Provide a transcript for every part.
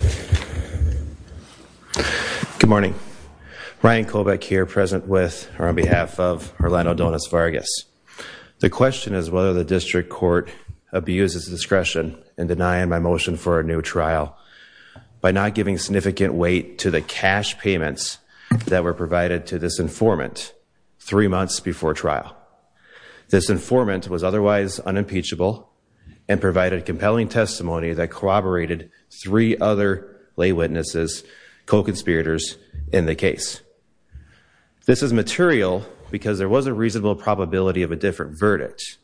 Good morning, Ryan Kovach here present with or on behalf of Orlando Dones-Vargas. The question is whether the district court abuses discretion in denying my motion for a new trial by not giving significant weight to the cash payments that were provided to this informant three months before trial. This informant was otherwise unimpeachable and provided compelling testimony that corroborated three other lay witnesses, co-conspirators in the case. This is material because there was a reasonable probability of a different verdict,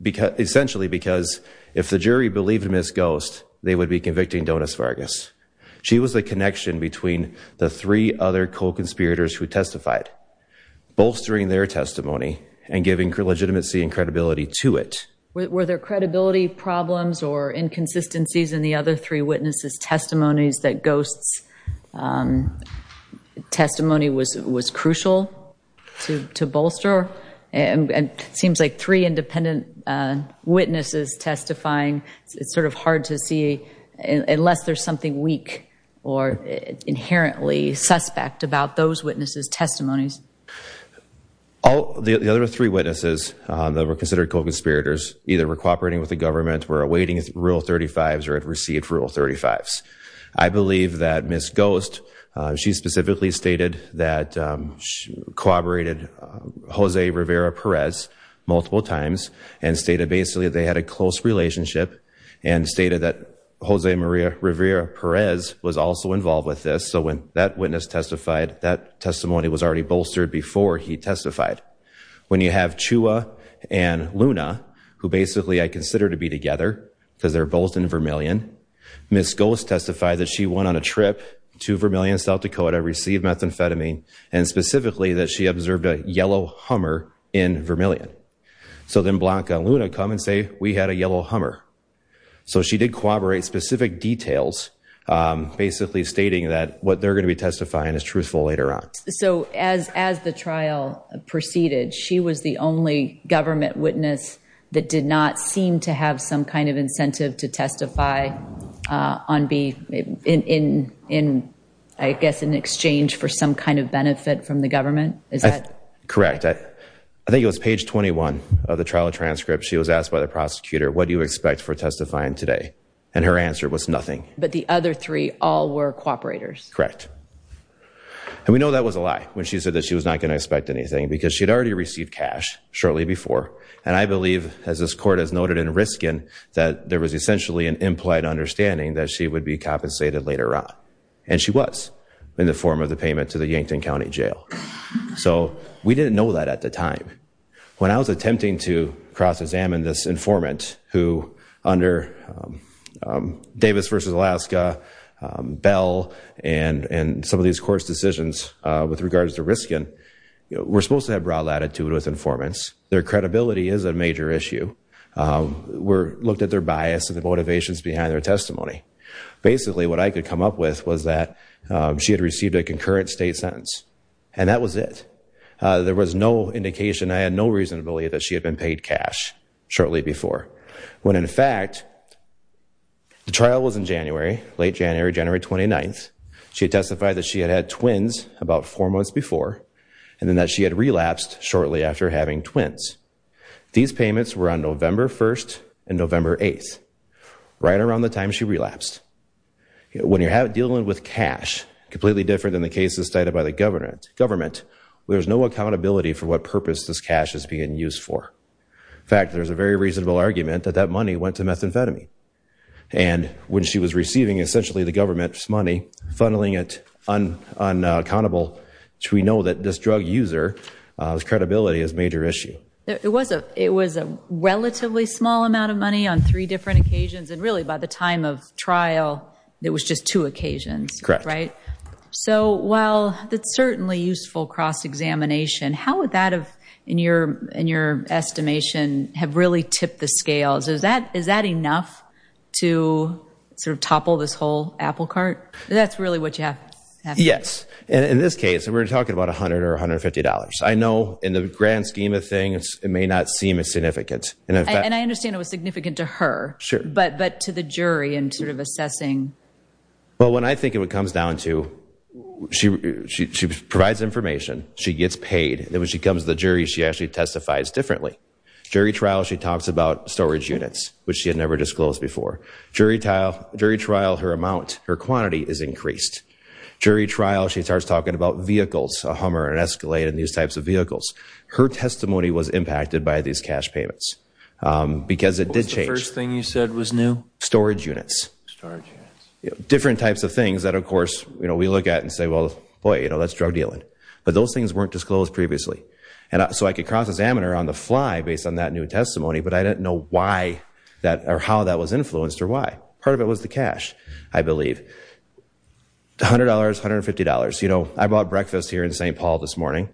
essentially because if the jury believed Ms. Ghost, they would be convicting Dones-Vargas. She was the connection between the three other co-conspirators who testified, bolstering their testimony and giving legitimacy and credibility to it. Were there credibility problems or inconsistencies in the other three witnesses' testimonies that Ghost's testimony was crucial to bolster? And it seems like three independent witnesses testifying, it's sort of hard to see unless there's something weak or inherently suspect about those witnesses' testimonies. The other three witnesses that were considered co-conspirators either were cooperating with the government, were awaiting Rule 35s or had received Rule 35s. I believe that Ms. Ghost, she specifically stated that she corroborated Jose Rivera-Perez multiple times and stated basically they had a close relationship and stated that Jose Maria Rivera-Perez was also involved with this. So when that witness testified, that testimony was already bolstered before he testified. When you have Chua and Luna, who basically I consider to be together because they're both in Vermilion, Ms. Ghost testified that she went on a trip to Vermilion, South Dakota, received methamphetamine, and specifically that she observed a yellow hummer in Vermilion. So then Blanca and Luna come and say, we had a yellow hummer. So she did corroborate specific details, basically stating that what they're going to be testifying is truthful later on. So as the trial proceeded, she was the only government witness that did not seem to have some kind of incentive to testify in, I guess, in exchange for some kind of benefit from the government? Is that correct? I think it was page 21 of the trial transcript, she was asked by the prosecutor, what do you expect for testifying today? And her answer was nothing. But the other three all were cooperators? Correct. And we know that was a lie when she said that she was not going to expect anything because she'd already received cash shortly before. And I believe, as this court has noted in Riskin, that there was essentially an implied understanding that she would be compensated later on. And she was, in the form of the payment to the Yankton County Jail. So we didn't know that at the time. When I was attempting to cross-examine this informant, who under Davis v. Alaska, Bell, and some of these court's decisions with regards to Riskin, we're supposed to have broad latitude with informants. Their credibility is a major issue. We looked at their bias and the motivations behind their testimony. Basically, what I could come up with was that she had received a concurrent state sentence. And that was it. There was no indication, I had no reason to believe that she had been paid cash shortly before. When, in fact, the trial was in January, late January, January 29th. She testified that she had had twins about four months before, and that she had relapsed shortly after having twins. These payments were on November 1st and November 8th, right around the time she relapsed. When you're dealing with cash, completely different than the cases cited by the government, there's no accountability for what purpose this cash is being used for. In fact, there's a very reasonable argument that that money went to methamphetamine. And when she was receiving, essentially, the government's money, funneling it on an accountable, we know that this drug user's credibility is a major issue. It was a relatively small amount of money on three different occasions, and really by the time of trial, it was just two occasions, right? So while that's certainly useful cross-examination, how would that have, in your estimation, have really tipped the scales? Is that enough to sort of topple this whole apple cart? That's really what you have to think about. Yes. In this case, we're talking about $100 or $150. I know in the grand scheme of things, it may not seem as significant. And I understand it was significant to her, but to the jury in sort of assessing? Well, when I think of what it comes down to, she provides information, she gets paid, and when she comes to the jury, she actually testifies differently. Jury trial, she talks about storage units, which she had never disclosed before. Jury trial, her amount, her quantity is increased. Jury trial, she starts talking about vehicles, a Hummer, an Escalade, and these types of vehicles. Her testimony was impacted by these cash payments, because it did change. What was the first thing you said was new? Storage units. Storage units. Different types of things that, of course, we look at and say, well, boy, that's drug dealing. But those things weren't disclosed previously. And so I could cross-examine her on the fly based on that new testimony, but I didn't know why or how that was influenced or why. Part of it was the cash, I believe. $100, $150. You know, I bought breakfast here in St. Paul this morning.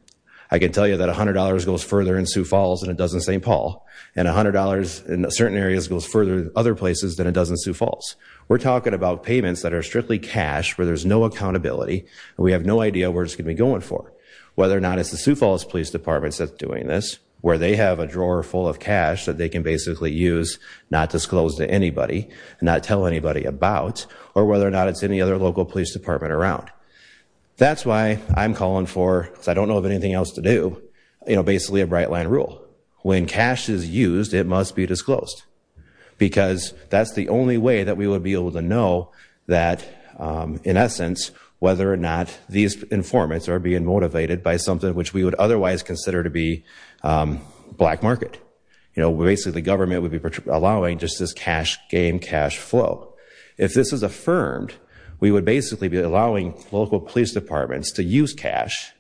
I can tell you that $100 goes further in Sioux Falls than it does in St. Paul. And $100 in certain areas goes further in other places than it does in Sioux Falls. We're talking about payments that are strictly cash, where there's no accountability, and we have no idea where it's going to be going for. Whether or not it's the Sioux Falls Police Department that's doing this, where they have a drawer full of cash that they can basically use, not disclose to anybody, not tell anybody about, or whether or not it's any other local police department around. That's why I'm calling for, because I don't know of anything else to do, you know, basically a Bright Line rule. When cash is used, it must be disclosed. Because that's the only way that we would be able to know that, in essence, whether or not these informants are being motivated by something which we would otherwise consider to be black market. You know, basically the government would be allowing just this cash game, cash flow. If this is affirmed, we would basically be allowing local police departments to use cash,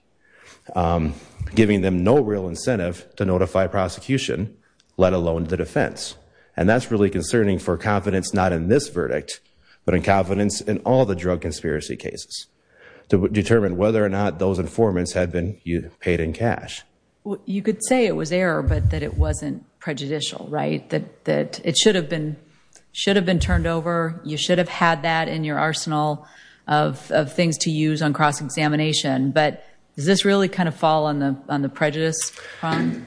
giving them no real incentive to notify prosecution, let alone the defense. And that's really concerning for confidence not in this verdict, but in confidence in all the drug conspiracy cases, to determine whether or not those informants had been paid in cash. You could say it was error, but that it wasn't prejudicial, right? That it should have been turned over, you should have had that in your arsenal of things to use on cross-examination. But does this really kind of fall on the prejudice, Ron?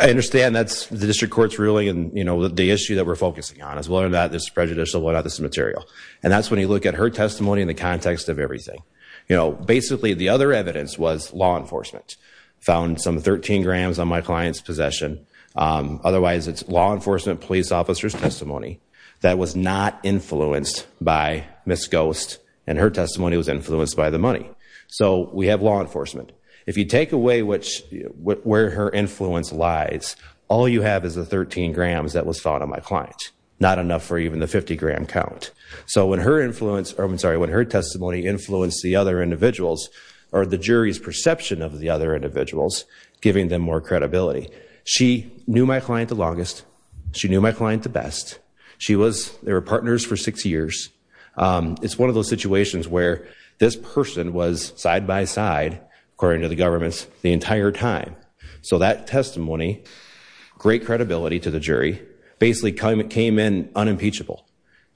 I understand that's the district court's ruling and, you know, the issue that we're focusing on is whether or not this is prejudicial, whether or not this is material. And that's when you look at her testimony in the context of everything. You know, basically the other evidence was law enforcement. Found some 13 grams on my client's possession. Otherwise it's law enforcement police officer's testimony that was not influenced by Ms. Ghost and her testimony was influenced by the money. So we have law enforcement. If you take away where her influence lies, all you have is the 13 grams that was found on my client. Not enough for even the 50-gram count. So when her testimony influenced the other individuals or the jury's perception of the other individuals, giving them more credibility. She knew my client the longest. She knew my client the best. They were partners for six years. It's one of those situations where this person was side-by-side, according to the government, the entire time. So that testimony, great credibility to the jury, basically came in unimpeachable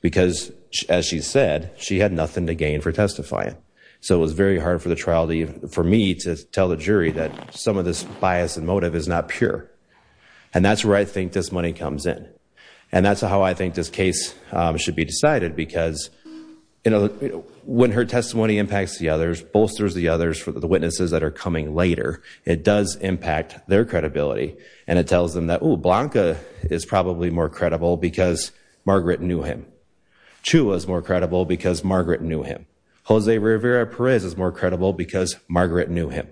because, as she said, she had nothing to gain for testifying. So it was very hard for me to tell the jury that some of this bias and motive is not pure. And that's where I think this money comes in. And that's how I think this case should be decided because, you know, when her testimony impacts the others, bolsters the others, the witnesses that are coming later, it does impact their credibility. And it tells them that, oh, Blanca is probably more credible because Margaret knew him. Chua is more credible because Margaret knew him. Jose Rivera Perez is more credible because Margaret knew him.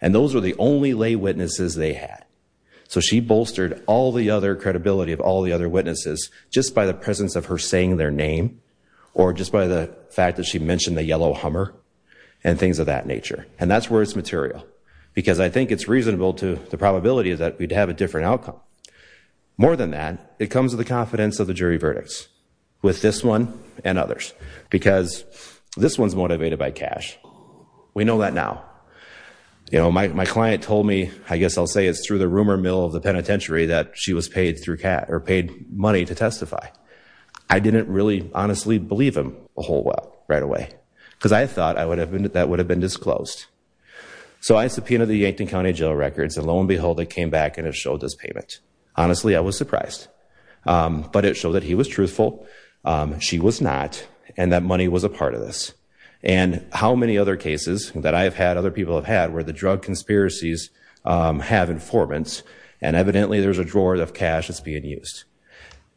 And those were the only lay witnesses they had. So she bolstered all the other credibility of all the other witnesses just by the presence of her saying their name or just by the fact that she mentioned the yellow Hummer and things of that nature. And that's where it's material. Because I think it's reasonable to, the probability is that we'd have a different outcome. More than that, it comes with the confidence of the jury verdicts with this one and others because this one's motivated by cash. We know that now. You know, my client told me, I guess I'll say it's through the rumor mill of the penitentiary that she was paid money to testify. I didn't really honestly believe him a whole lot right away because I thought that would have been disclosed. So I subpoenaed the Yankton County Jail records and lo and behold, it came back and it showed this payment. Honestly, I was surprised. But it showed that he was truthful, she was not, and that money was a part of this. And how many other cases that I've had, other people have had, where the drug conspiracies have informants and evidently there's a drawer of cash that's being used.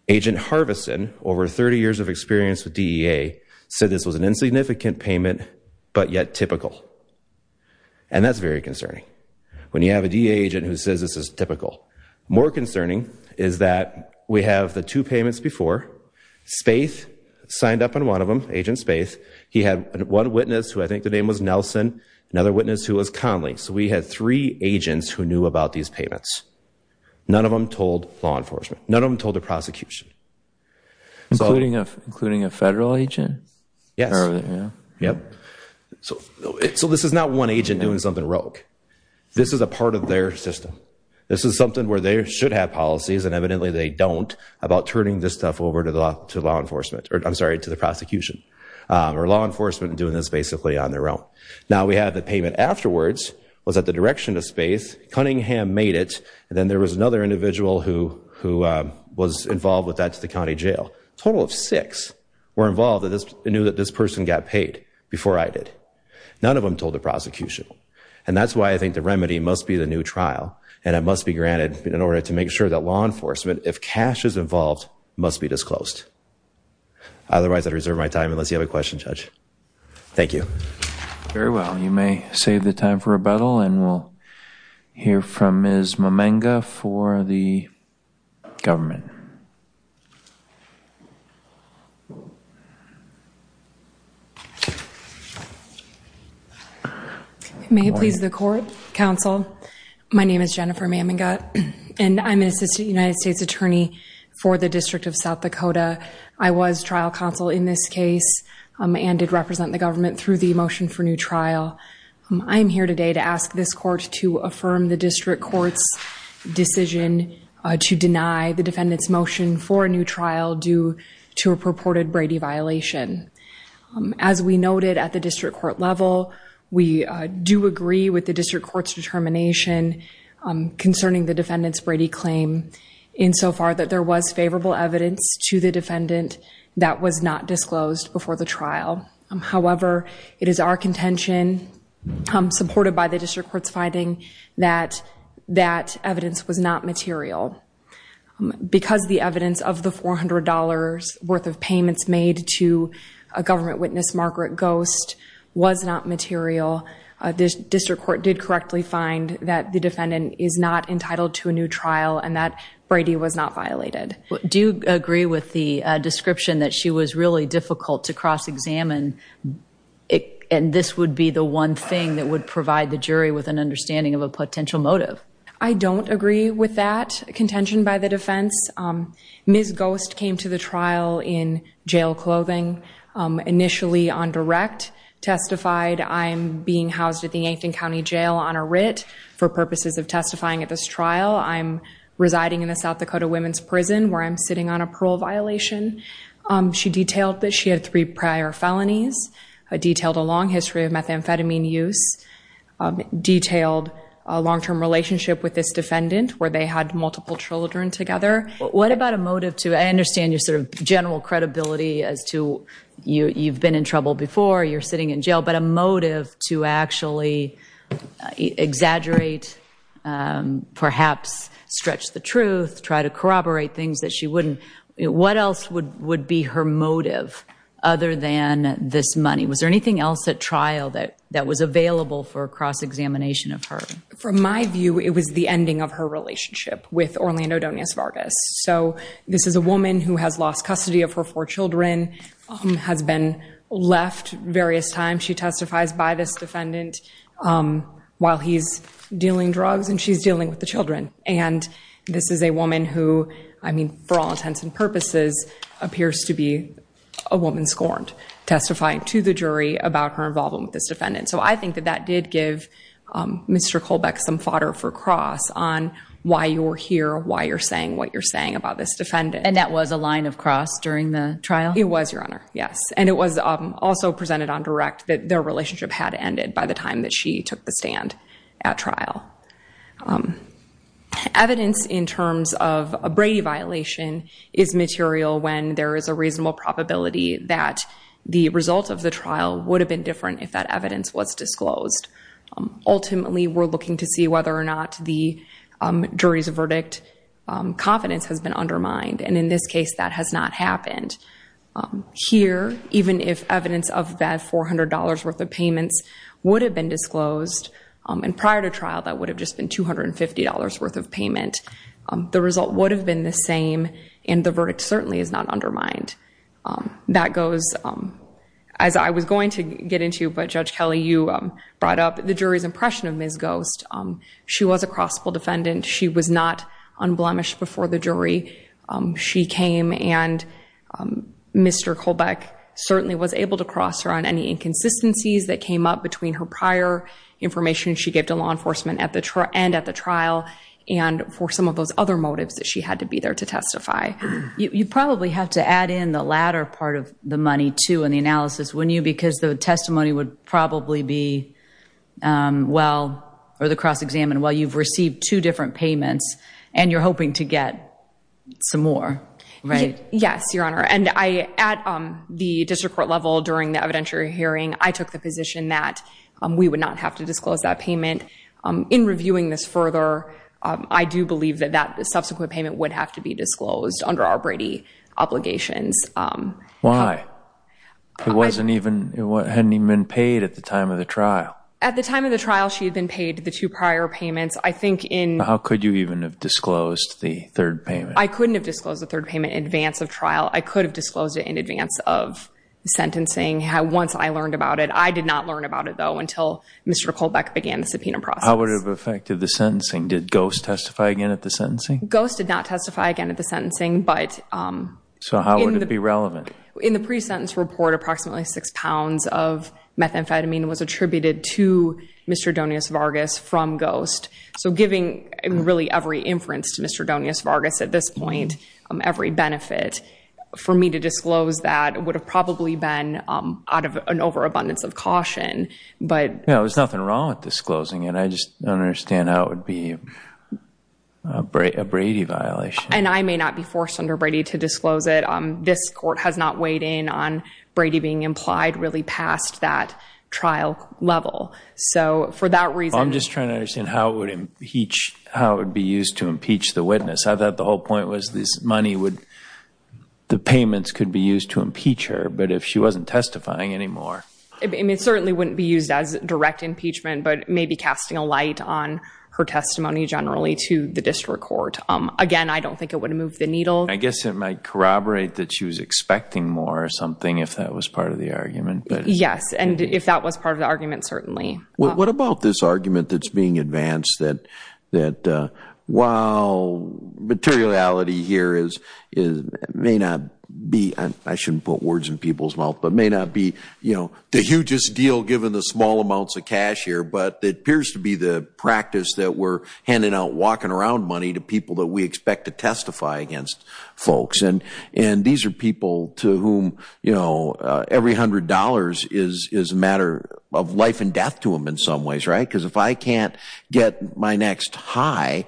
Agent Harvison, over 30 years of experience with DEA, said this was an insignificant payment but yet typical. And that's very concerning. When you have a DEA agent who says this is typical. More concerning is that we have the two payments before. Spaeth signed up on one of them, Agent Spaeth. He had one witness who I think the name was Nelson, another witness who was Conley. So we had three agents who knew about these payments. None of them told law enforcement. None of them told the prosecution. Including a federal agent? Yes. Yep. So this is not one agent doing something rogue. This is a part of their system. This is something where they should have policies and evidently they don't about turning this stuff over to the law enforcement, or I'm sorry, to the prosecution. Or law enforcement doing this basically on their own. Now we have the payment afterwards, was at the direction of Spaeth. Cunningham made it and then there was another individual who was involved with that to the county jail. A total of six were involved that knew that this person got paid before I did. None of them told the prosecution. And that's why I think the remedy must be the new trial. And it must be granted in order to make sure that law enforcement, if cash is involved, must be disclosed. Otherwise, I'd reserve my time unless you have a question, Judge. Thank you. Very well. You may save the time for rebuttal and we'll hear from Ms. Mamenga for the government. May it please the court, counsel. My name is Jennifer Mamenga and I'm an assistant United States attorney for the District of South Dakota. I was trial counsel in this case and did represent the government through the motion for new trial. I am here today to ask this court to affirm the district court's decision to deny the defendant's motion for a new trial due to a purported Brady violation. As we noted at the district court level, we do agree with the district court's determination concerning the defendant's Brady claim insofar that there was favorable evidence to the defendant that was not disclosed before the trial. However, it is our contention, supported by the district court's finding, that that evidence was not material. Because the evidence of the $400 worth of payments made to a government witness, Margaret Ghost, was not material, the district court did correctly find that the defendant is not entitled to a new trial and that Brady was not violated. Do you agree with the description that she was really difficult to cross-examine and this would be the one thing that would provide the jury with an understanding of a potential motive? I don't agree with that contention by the defense. Ms. Ghost came to the trial in jail clothing, initially on direct, testified, I'm being housed at the Yankton County Jail on a writ for purposes of testifying at this trial. I'm residing in the South Dakota Women's Prison where I'm sitting on a parole violation. She detailed that she had three prior felonies, detailed a long history of methamphetamine use, detailed a long-term relationship with this defendant where they had multiple children together. What about a motive to, I understand your general credibility as to you've been in trouble before, you're sitting in jail, but a motive to actually exaggerate, perhaps stretch the truth, try to corroborate things that she wouldn't. What else would be her motive other than this money? Was there anything else at trial that was available for cross-examination of her? From my view, it was the ending of her relationship with Orlando Donas Vargas. So this is a woman who has lost custody of her four children, has been left various times. She testifies by this defendant while he's dealing drugs and she's dealing with the children. And this is a woman who, I mean, for all intents and purposes, appears to be a woman scorned, testifying to the jury about her involvement with this defendant. So I think that that did give Mr. Colbeck some fodder for cross on why you were here, why you're saying what you're saying about this defendant. And that was a line of cross during the trial? It was, Your Honor, yes. And it was also presented on direct that their relationship had ended by the time that she took the stand at trial. Evidence in terms of a Brady violation is material when there is a reasonable probability that the result of the trial would have been different if that evidence was disclosed. Ultimately, we're looking to see whether or not the jury's verdict confidence has been undermined. And in this case, that has not happened. Here, even if evidence of that $400 worth of payments would have been disclosed, and prior to trial that would have just been $250 worth of payment, the result would have been the same and the verdict certainly is not undermined. That goes, as I was going to get into, but Judge Kelly, you brought up the jury's impression of Ms. Ghost. She was a crossable defendant. She was not unblemished before the jury. She came and Mr. Colbeck certainly was able to cross her on any inconsistencies that came up between her prior information she gave to law enforcement and at the trial and for You probably have to add in the latter part of the money, too, in the analysis, wouldn't you? Because the testimony would probably be, well, or the cross-examined, well, you've received two different payments and you're hoping to get some more, right? Yes, Your Honor. And at the district court level during the evidentiary hearing, I took the position that we would not have to disclose that payment. In reviewing this further, I do believe that that subsequent payment would have to be disclosed under our Brady obligations. Why? It wasn't even, it hadn't even been paid at the time of the trial. At the time of the trial, she had been paid the two prior payments. I think in- How could you even have disclosed the third payment? I couldn't have disclosed the third payment in advance of trial. I could have disclosed it in advance of sentencing once I learned about it. I did not learn about it, though, until Mr. Colbeck began the subpoena process. How would it have affected the sentencing? Did Ghost testify again at the sentencing? Ghost did not testify again at the sentencing, but- So how would it be relevant? In the pre-sentence report, approximately six pounds of methamphetamine was attributed to Mr. Donius Vargas from Ghost. So giving really every inference to Mr. Donius Vargas at this point, every benefit, for me to disclose that would have probably been out of an overabundance of caution, but- There's nothing wrong with disclosing it. I just don't understand how it would be a Brady violation. And I may not be forced under Brady to disclose it. This court has not weighed in on Brady being implied really past that trial level. So for that reason- I'm just trying to understand how it would be used to impeach the witness. I thought the whole point was this money would, the payments could be used to impeach her, but if she wasn't testifying anymore- It certainly wouldn't be used as direct impeachment, but maybe casting a light on her testimony generally to the district court. Again, I don't think it would move the needle. I guess it might corroborate that she was expecting more or something if that was part of the argument. Yes. And if that was part of the argument, certainly. What about this argument that's being advanced that while materiality here may not be, I mean, you just deal given the small amounts of cash here, but it appears to be the practice that we're handing out walking around money to people that we expect to testify against folks. And these are people to whom every hundred dollars is a matter of life and death to them in some ways, right? Because if I can't get my next high,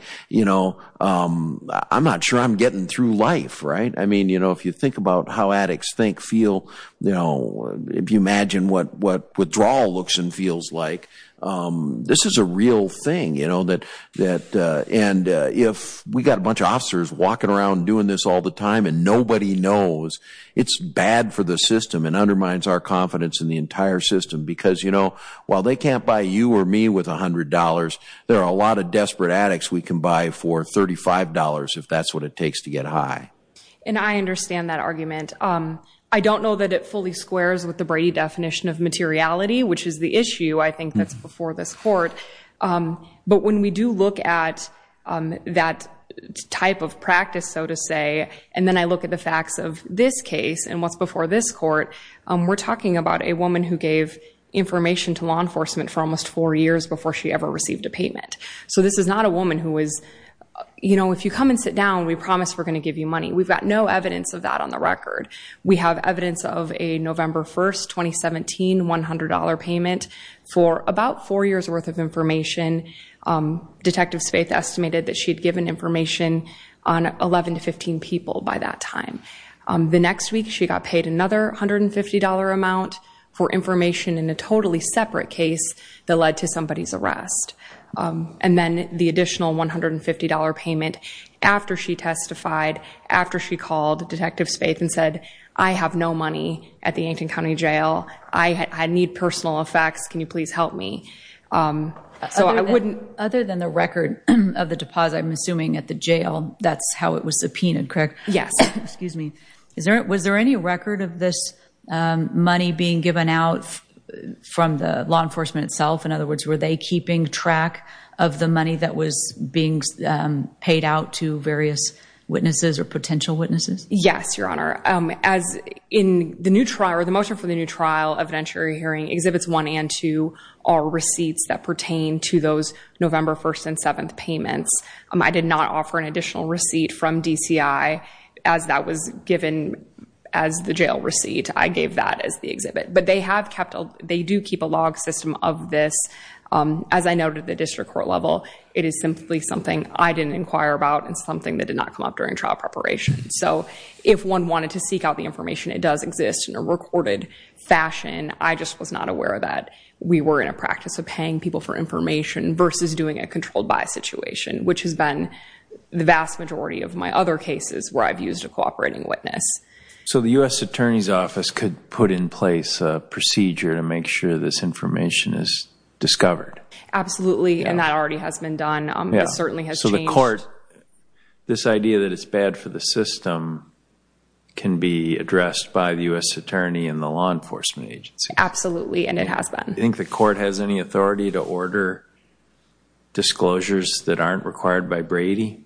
I'm not sure I'm getting through life, right? I mean, if you think about how addicts think, feel, if you imagine what withdrawal looks and feels like, this is a real thing. And if we got a bunch of officers walking around doing this all the time and nobody knows, it's bad for the system and undermines our confidence in the entire system. Because while they can't buy you or me with a hundred dollars, there are a lot of desperate addicts we can buy for $35 if that's what it takes to get high. And I understand that argument. I don't know that it fully squares with the Brady definition of materiality, which is the issue, I think, that's before this court. But when we do look at that type of practice, so to say, and then I look at the facts of this case and what's before this court, we're talking about a woman who gave information to law enforcement for almost four years before she ever received a payment. So this is not a woman who was, you know, if you come and sit down, we promise we're We've got no evidence of that on the record. We have evidence of a November 1st, 2017 $100 payment for about four years worth of information. Detectives Faith estimated that she'd given information on 11 to 15 people by that time. The next week she got paid another $150 amount for information in a totally separate case that led to somebody's arrest. Then the additional $150 payment after she testified, after she called Detectives Faith and said, I have no money at the Yankton County Jail. I need personal effects. Can you please help me? So I wouldn't- Other than the record of the deposit, I'm assuming at the jail, that's how it was subpoenaed, correct? Yes. Excuse me. Was there any record of this money being given out from the law enforcement itself? In other words, were they keeping track of the money that was being paid out to various witnesses or potential witnesses? Yes, Your Honor. As in the new trial, or the motion for the new trial evidentiary hearing, Exhibits 1 and 2 are receipts that pertain to those November 1st and 7th payments. I did not offer an additional receipt from DCI as that was given as the jail receipt. I gave that as the exhibit. But they do keep a log system of this. As I noted at the district court level, it is simply something I didn't inquire about and something that did not come up during trial preparation. So if one wanted to seek out the information, it does exist in a recorded fashion. I just was not aware that we were in a practice of paying people for information versus doing a controlled by situation, which has been the vast majority of my other cases where I've used a cooperating witness. So the U.S. Attorney's Office could put in place a procedure to make sure this information is discovered? Absolutely. And that already has been done. It certainly has changed. So the court, this idea that it's bad for the system can be addressed by the U.S. Attorney and the law enforcement agency? Absolutely. And it has been. Do you think the court has any authority to order disclosures that aren't required by Brady?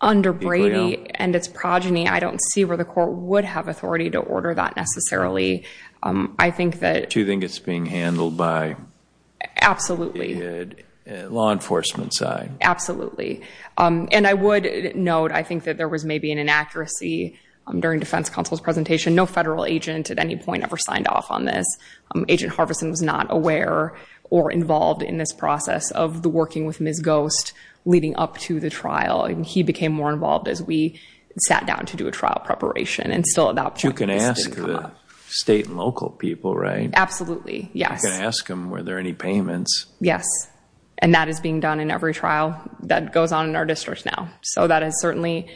Under Brady and its progeny, I don't see where the court would have authority to order that necessarily. I think that... Do you think it's being handled by... Absolutely.... the law enforcement side? Absolutely. And I would note, I think that there was maybe an inaccuracy during defense counsel's presentation. No federal agent at any point ever signed off on this. Agent Harvison was not aware or involved in this process of the working with Ms. Ghost leading up to the trial. He became more involved as we sat down to do a trial preparation and still adopt... You can ask the state and local people, right? Absolutely. Yes. You can ask them were there any payments. Yes. And that is being done in every trial that goes on in our district now. So that has certainly,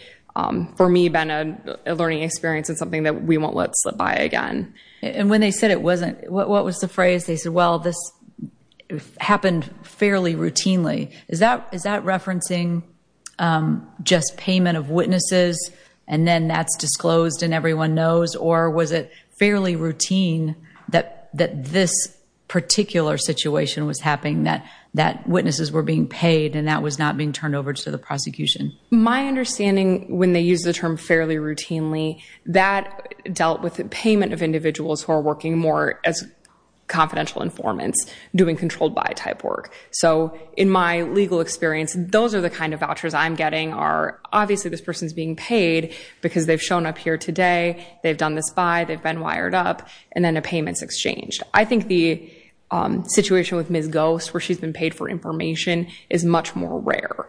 for me, been a learning experience and something that we won't let slip by again. And when they said it wasn't, what was the phrase? They said, well, this happened fairly routinely. Is that referencing just payment of witnesses and then that's disclosed and everyone knows? Or was it fairly routine that this particular situation was happening, that witnesses were being paid and that was not being turned over to the prosecution? My understanding, when they use the term fairly routinely, that dealt with the payment of individuals who are working more as confidential informants doing controlled by type work. So in my legal experience, those are the kind of vouchers I'm getting are, obviously, this person's being paid because they've shown up here today, they've done this by, they've been wired up, and then a payment's exchanged. I think the situation with Ms. Ghost, where she's been paid for information, is much more rare.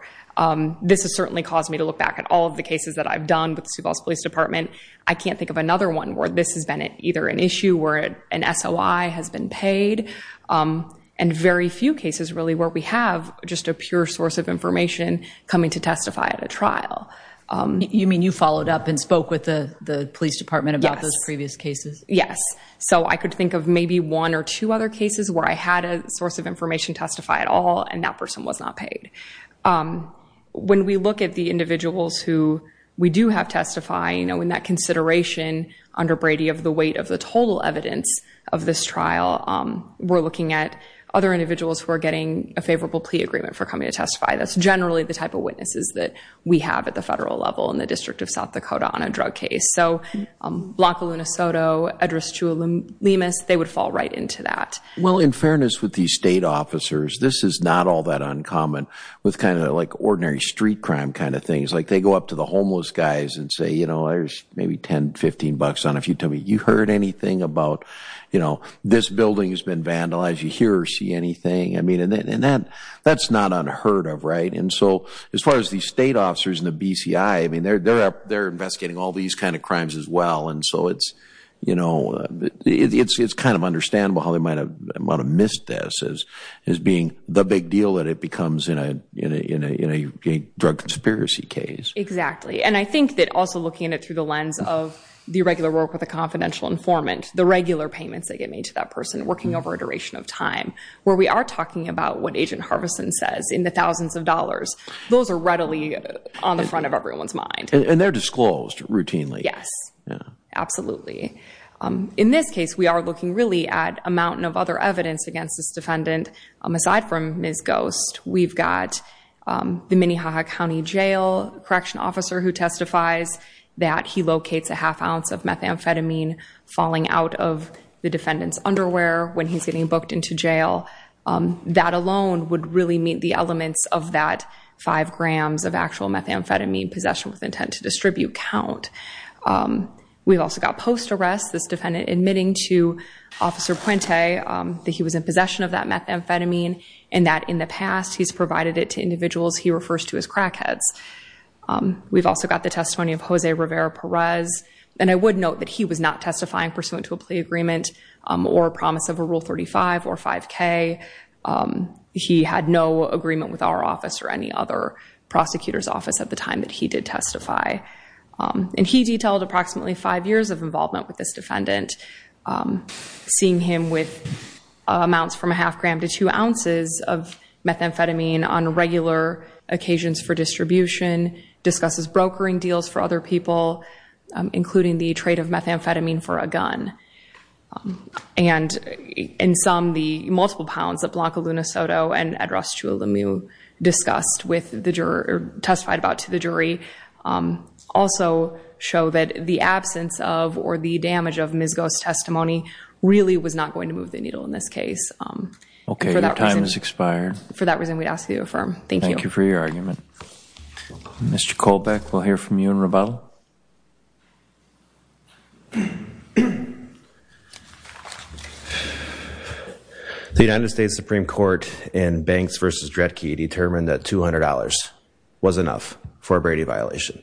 This has certainly caused me to look back at all of the cases that I've done with the Sioux Falls Police Department. I can't think of another one where this has been either an issue where an SOI has been paid, and very few cases really where we have just a pure source of information coming to testify at a trial. You mean you followed up and spoke with the police department about those previous cases? Yes. So I could think of maybe one or two other cases where I had a source of information testify at all and that person was not paid. When we look at the individuals who we do have testify, you know, in that consideration under Brady of the weight of the total evidence of this trial, we're looking at other individuals who are getting a favorable plea agreement for coming to testify. That's generally the type of witnesses that we have at the federal level in the District of South Dakota on a drug case. So Blanco, Lunasoto, Edristou, Lemus, they would fall right into that. Well, in fairness with these state officers, this is not all that uncommon with kind of like ordinary street crime kind of things. Like they go up to the homeless guys and say, you know, there's maybe 10, 15 bucks on if you tell me you heard anything about, you know, this building has been vandalized, you hear or see anything. I mean, and that's not unheard of, right? And so as far as the state officers in the BCI, I mean, they're investigating all these kind of crimes as well. And so it's, you know, it's kind of understandable how they might have missed this as being the Exactly. And I think that also looking at it through the lens of the regular work with a confidential informant, the regular payments that get made to that person working over a duration of time, where we are talking about what Agent Harvison says in the thousands of dollars, those are readily on the front of everyone's mind. And they're disclosed routinely. Yes, absolutely. In this case, we are looking really at a mountain of other evidence against this defendant. Aside from Ms. Ghost, we've got the Minnehaha County Jail Correction officer who testifies that he locates a half ounce of methamphetamine falling out of the defendant's underwear when he's getting booked into jail. That alone would really meet the elements of that five grams of actual methamphetamine possession with intent to distribute count. We've also got post arrest, this defendant admitting to Officer Puente that he was in possession of methamphetamine and that in the past, he's provided it to individuals he refers to as crackheads. We've also got the testimony of Jose Rivera Perez. And I would note that he was not testifying pursuant to a plea agreement or a promise of a Rule 35 or 5K. He had no agreement with our office or any other prosecutor's office at the time that he did testify. And he detailed approximately five years of involvement with this defendant, seeing him with amounts from a half gram to two ounces of methamphetamine on regular occasions for distribution, discusses brokering deals for other people, including the trade of methamphetamine for a gun. And in sum, the multiple pounds that Blanca Lunasoto and Edrost Chualamu testified about to the jury also show that the absence of or the damage of Ms. Ghost's testimony really was not going to move the needle in this case. OK. Your time has expired. For that reason, we'd ask that you affirm. Thank you. Thank you for your argument. Mr. Kolbeck, we'll hear from you in rebuttal. The United States Supreme Court in Banks v. Dredke determined that $200 was enough for a Brady violation.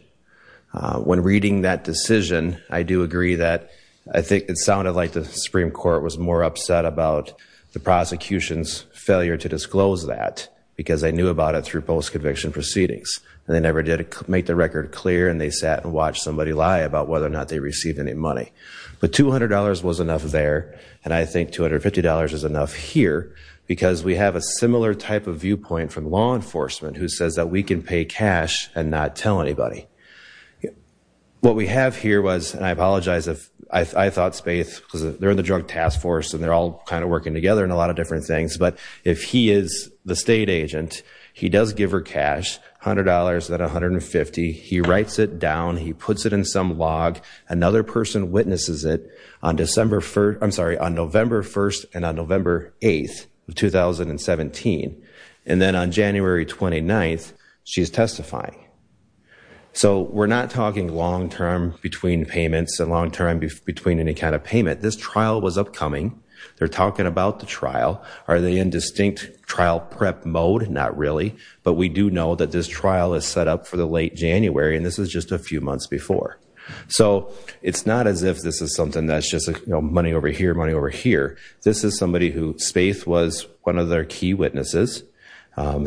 When reading that decision, I do agree that I think it sounded like the Supreme Court was more upset about the prosecution's failure to disclose that because they knew about it through post-conviction proceedings. And they never did make the record clear. And they sat and watched somebody lie about whether or not they received any money. But $200 was enough there. And I think $250 is enough here because we have a similar type of viewpoint from law enforcement, who says that we can pay cash and not tell anybody. What we have here was, and I apologize if I thought Spaeth, because they're in the drug task force. And they're all kind of working together in a lot of different things. But if he is the state agent, he does give her cash, $100, then $150. He writes it down. He puts it in some log. Another person witnesses it on November 1 and on November 8 of 2017. And then on January 29, she's testifying. So we're not talking long-term between payments and long-term between any kind of payment. This trial was upcoming. They're talking about the trial. Are they in distinct trial prep mode? Not really. But we do know that this trial is set up for the late January. And this is just a few months before. So it's not as if this is something that's just money over here, money over here. This is somebody who Spaeth was one of their key witnesses,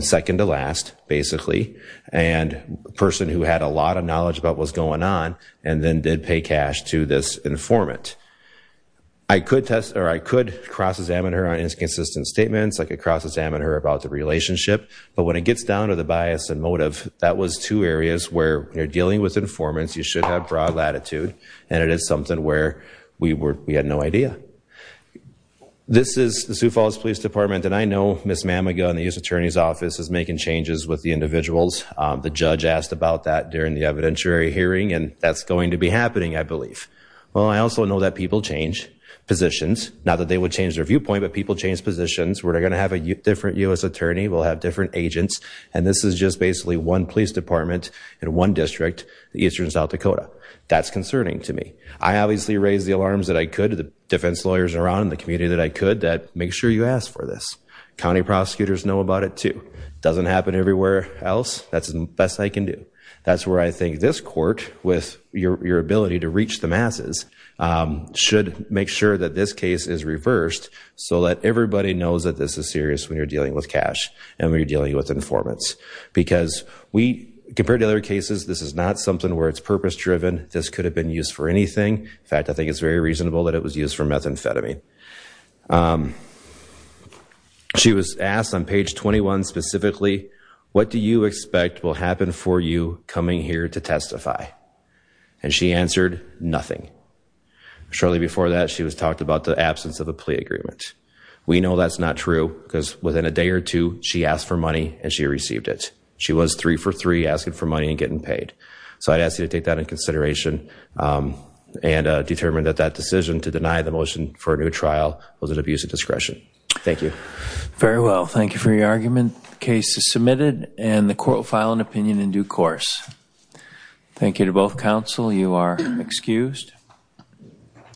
second to last, basically. And a person who had a lot of knowledge about what was going on and then did pay cash to this informant. I could cross-examine her on inconsistent statements. I could cross-examine her about the relationship. But when it gets down to the bias and motive, that was two areas where when you're dealing with informants, you should have broad latitude. And it is something where we had no idea. This is the Sioux Falls Police Department. And I know Ms. Mamaga in the U.S. Attorney's Office is making changes with the individuals. The judge asked about that during the evidentiary hearing. And that's going to be happening, I believe. Well, I also know that people change positions. Not that they would change their viewpoint, but people change positions. We're going to have a different U.S. attorney. We'll have different agents. And this is just basically one police department in one district in eastern South Dakota. That's concerning to me. I obviously raised the alarms that I could to the defense lawyers around in the community that I could that, make sure you ask for this. County prosecutors know about it, too. It doesn't happen everywhere else. That's the best I can do. That's where I think this court, with your ability to reach the masses, should make sure that this case is reversed so that everybody knows that this is serious when you're dealing with cash and when you're dealing with informants. Because we, compared to other cases, this is not something where it's purpose-driven. This could have been used for anything. In fact, I think it's very reasonable that it was used for methamphetamine. She was asked on page 21 specifically, what do you expect will happen for you coming here to testify? And she answered, nothing. Shortly before that, she was talked about the absence of a plea agreement. We know that's not true, because within a day or two, she asked for money and she received it. She was three for three, asking for money and getting paid. So I'd ask you to take that into consideration and determine that that decision to deny the motion for a new trial was an abuse of discretion. Thank you. Very well. Thank you for your argument. The case is submitted and the court will file an opinion in due course. Thank you to both counsel. You are excused.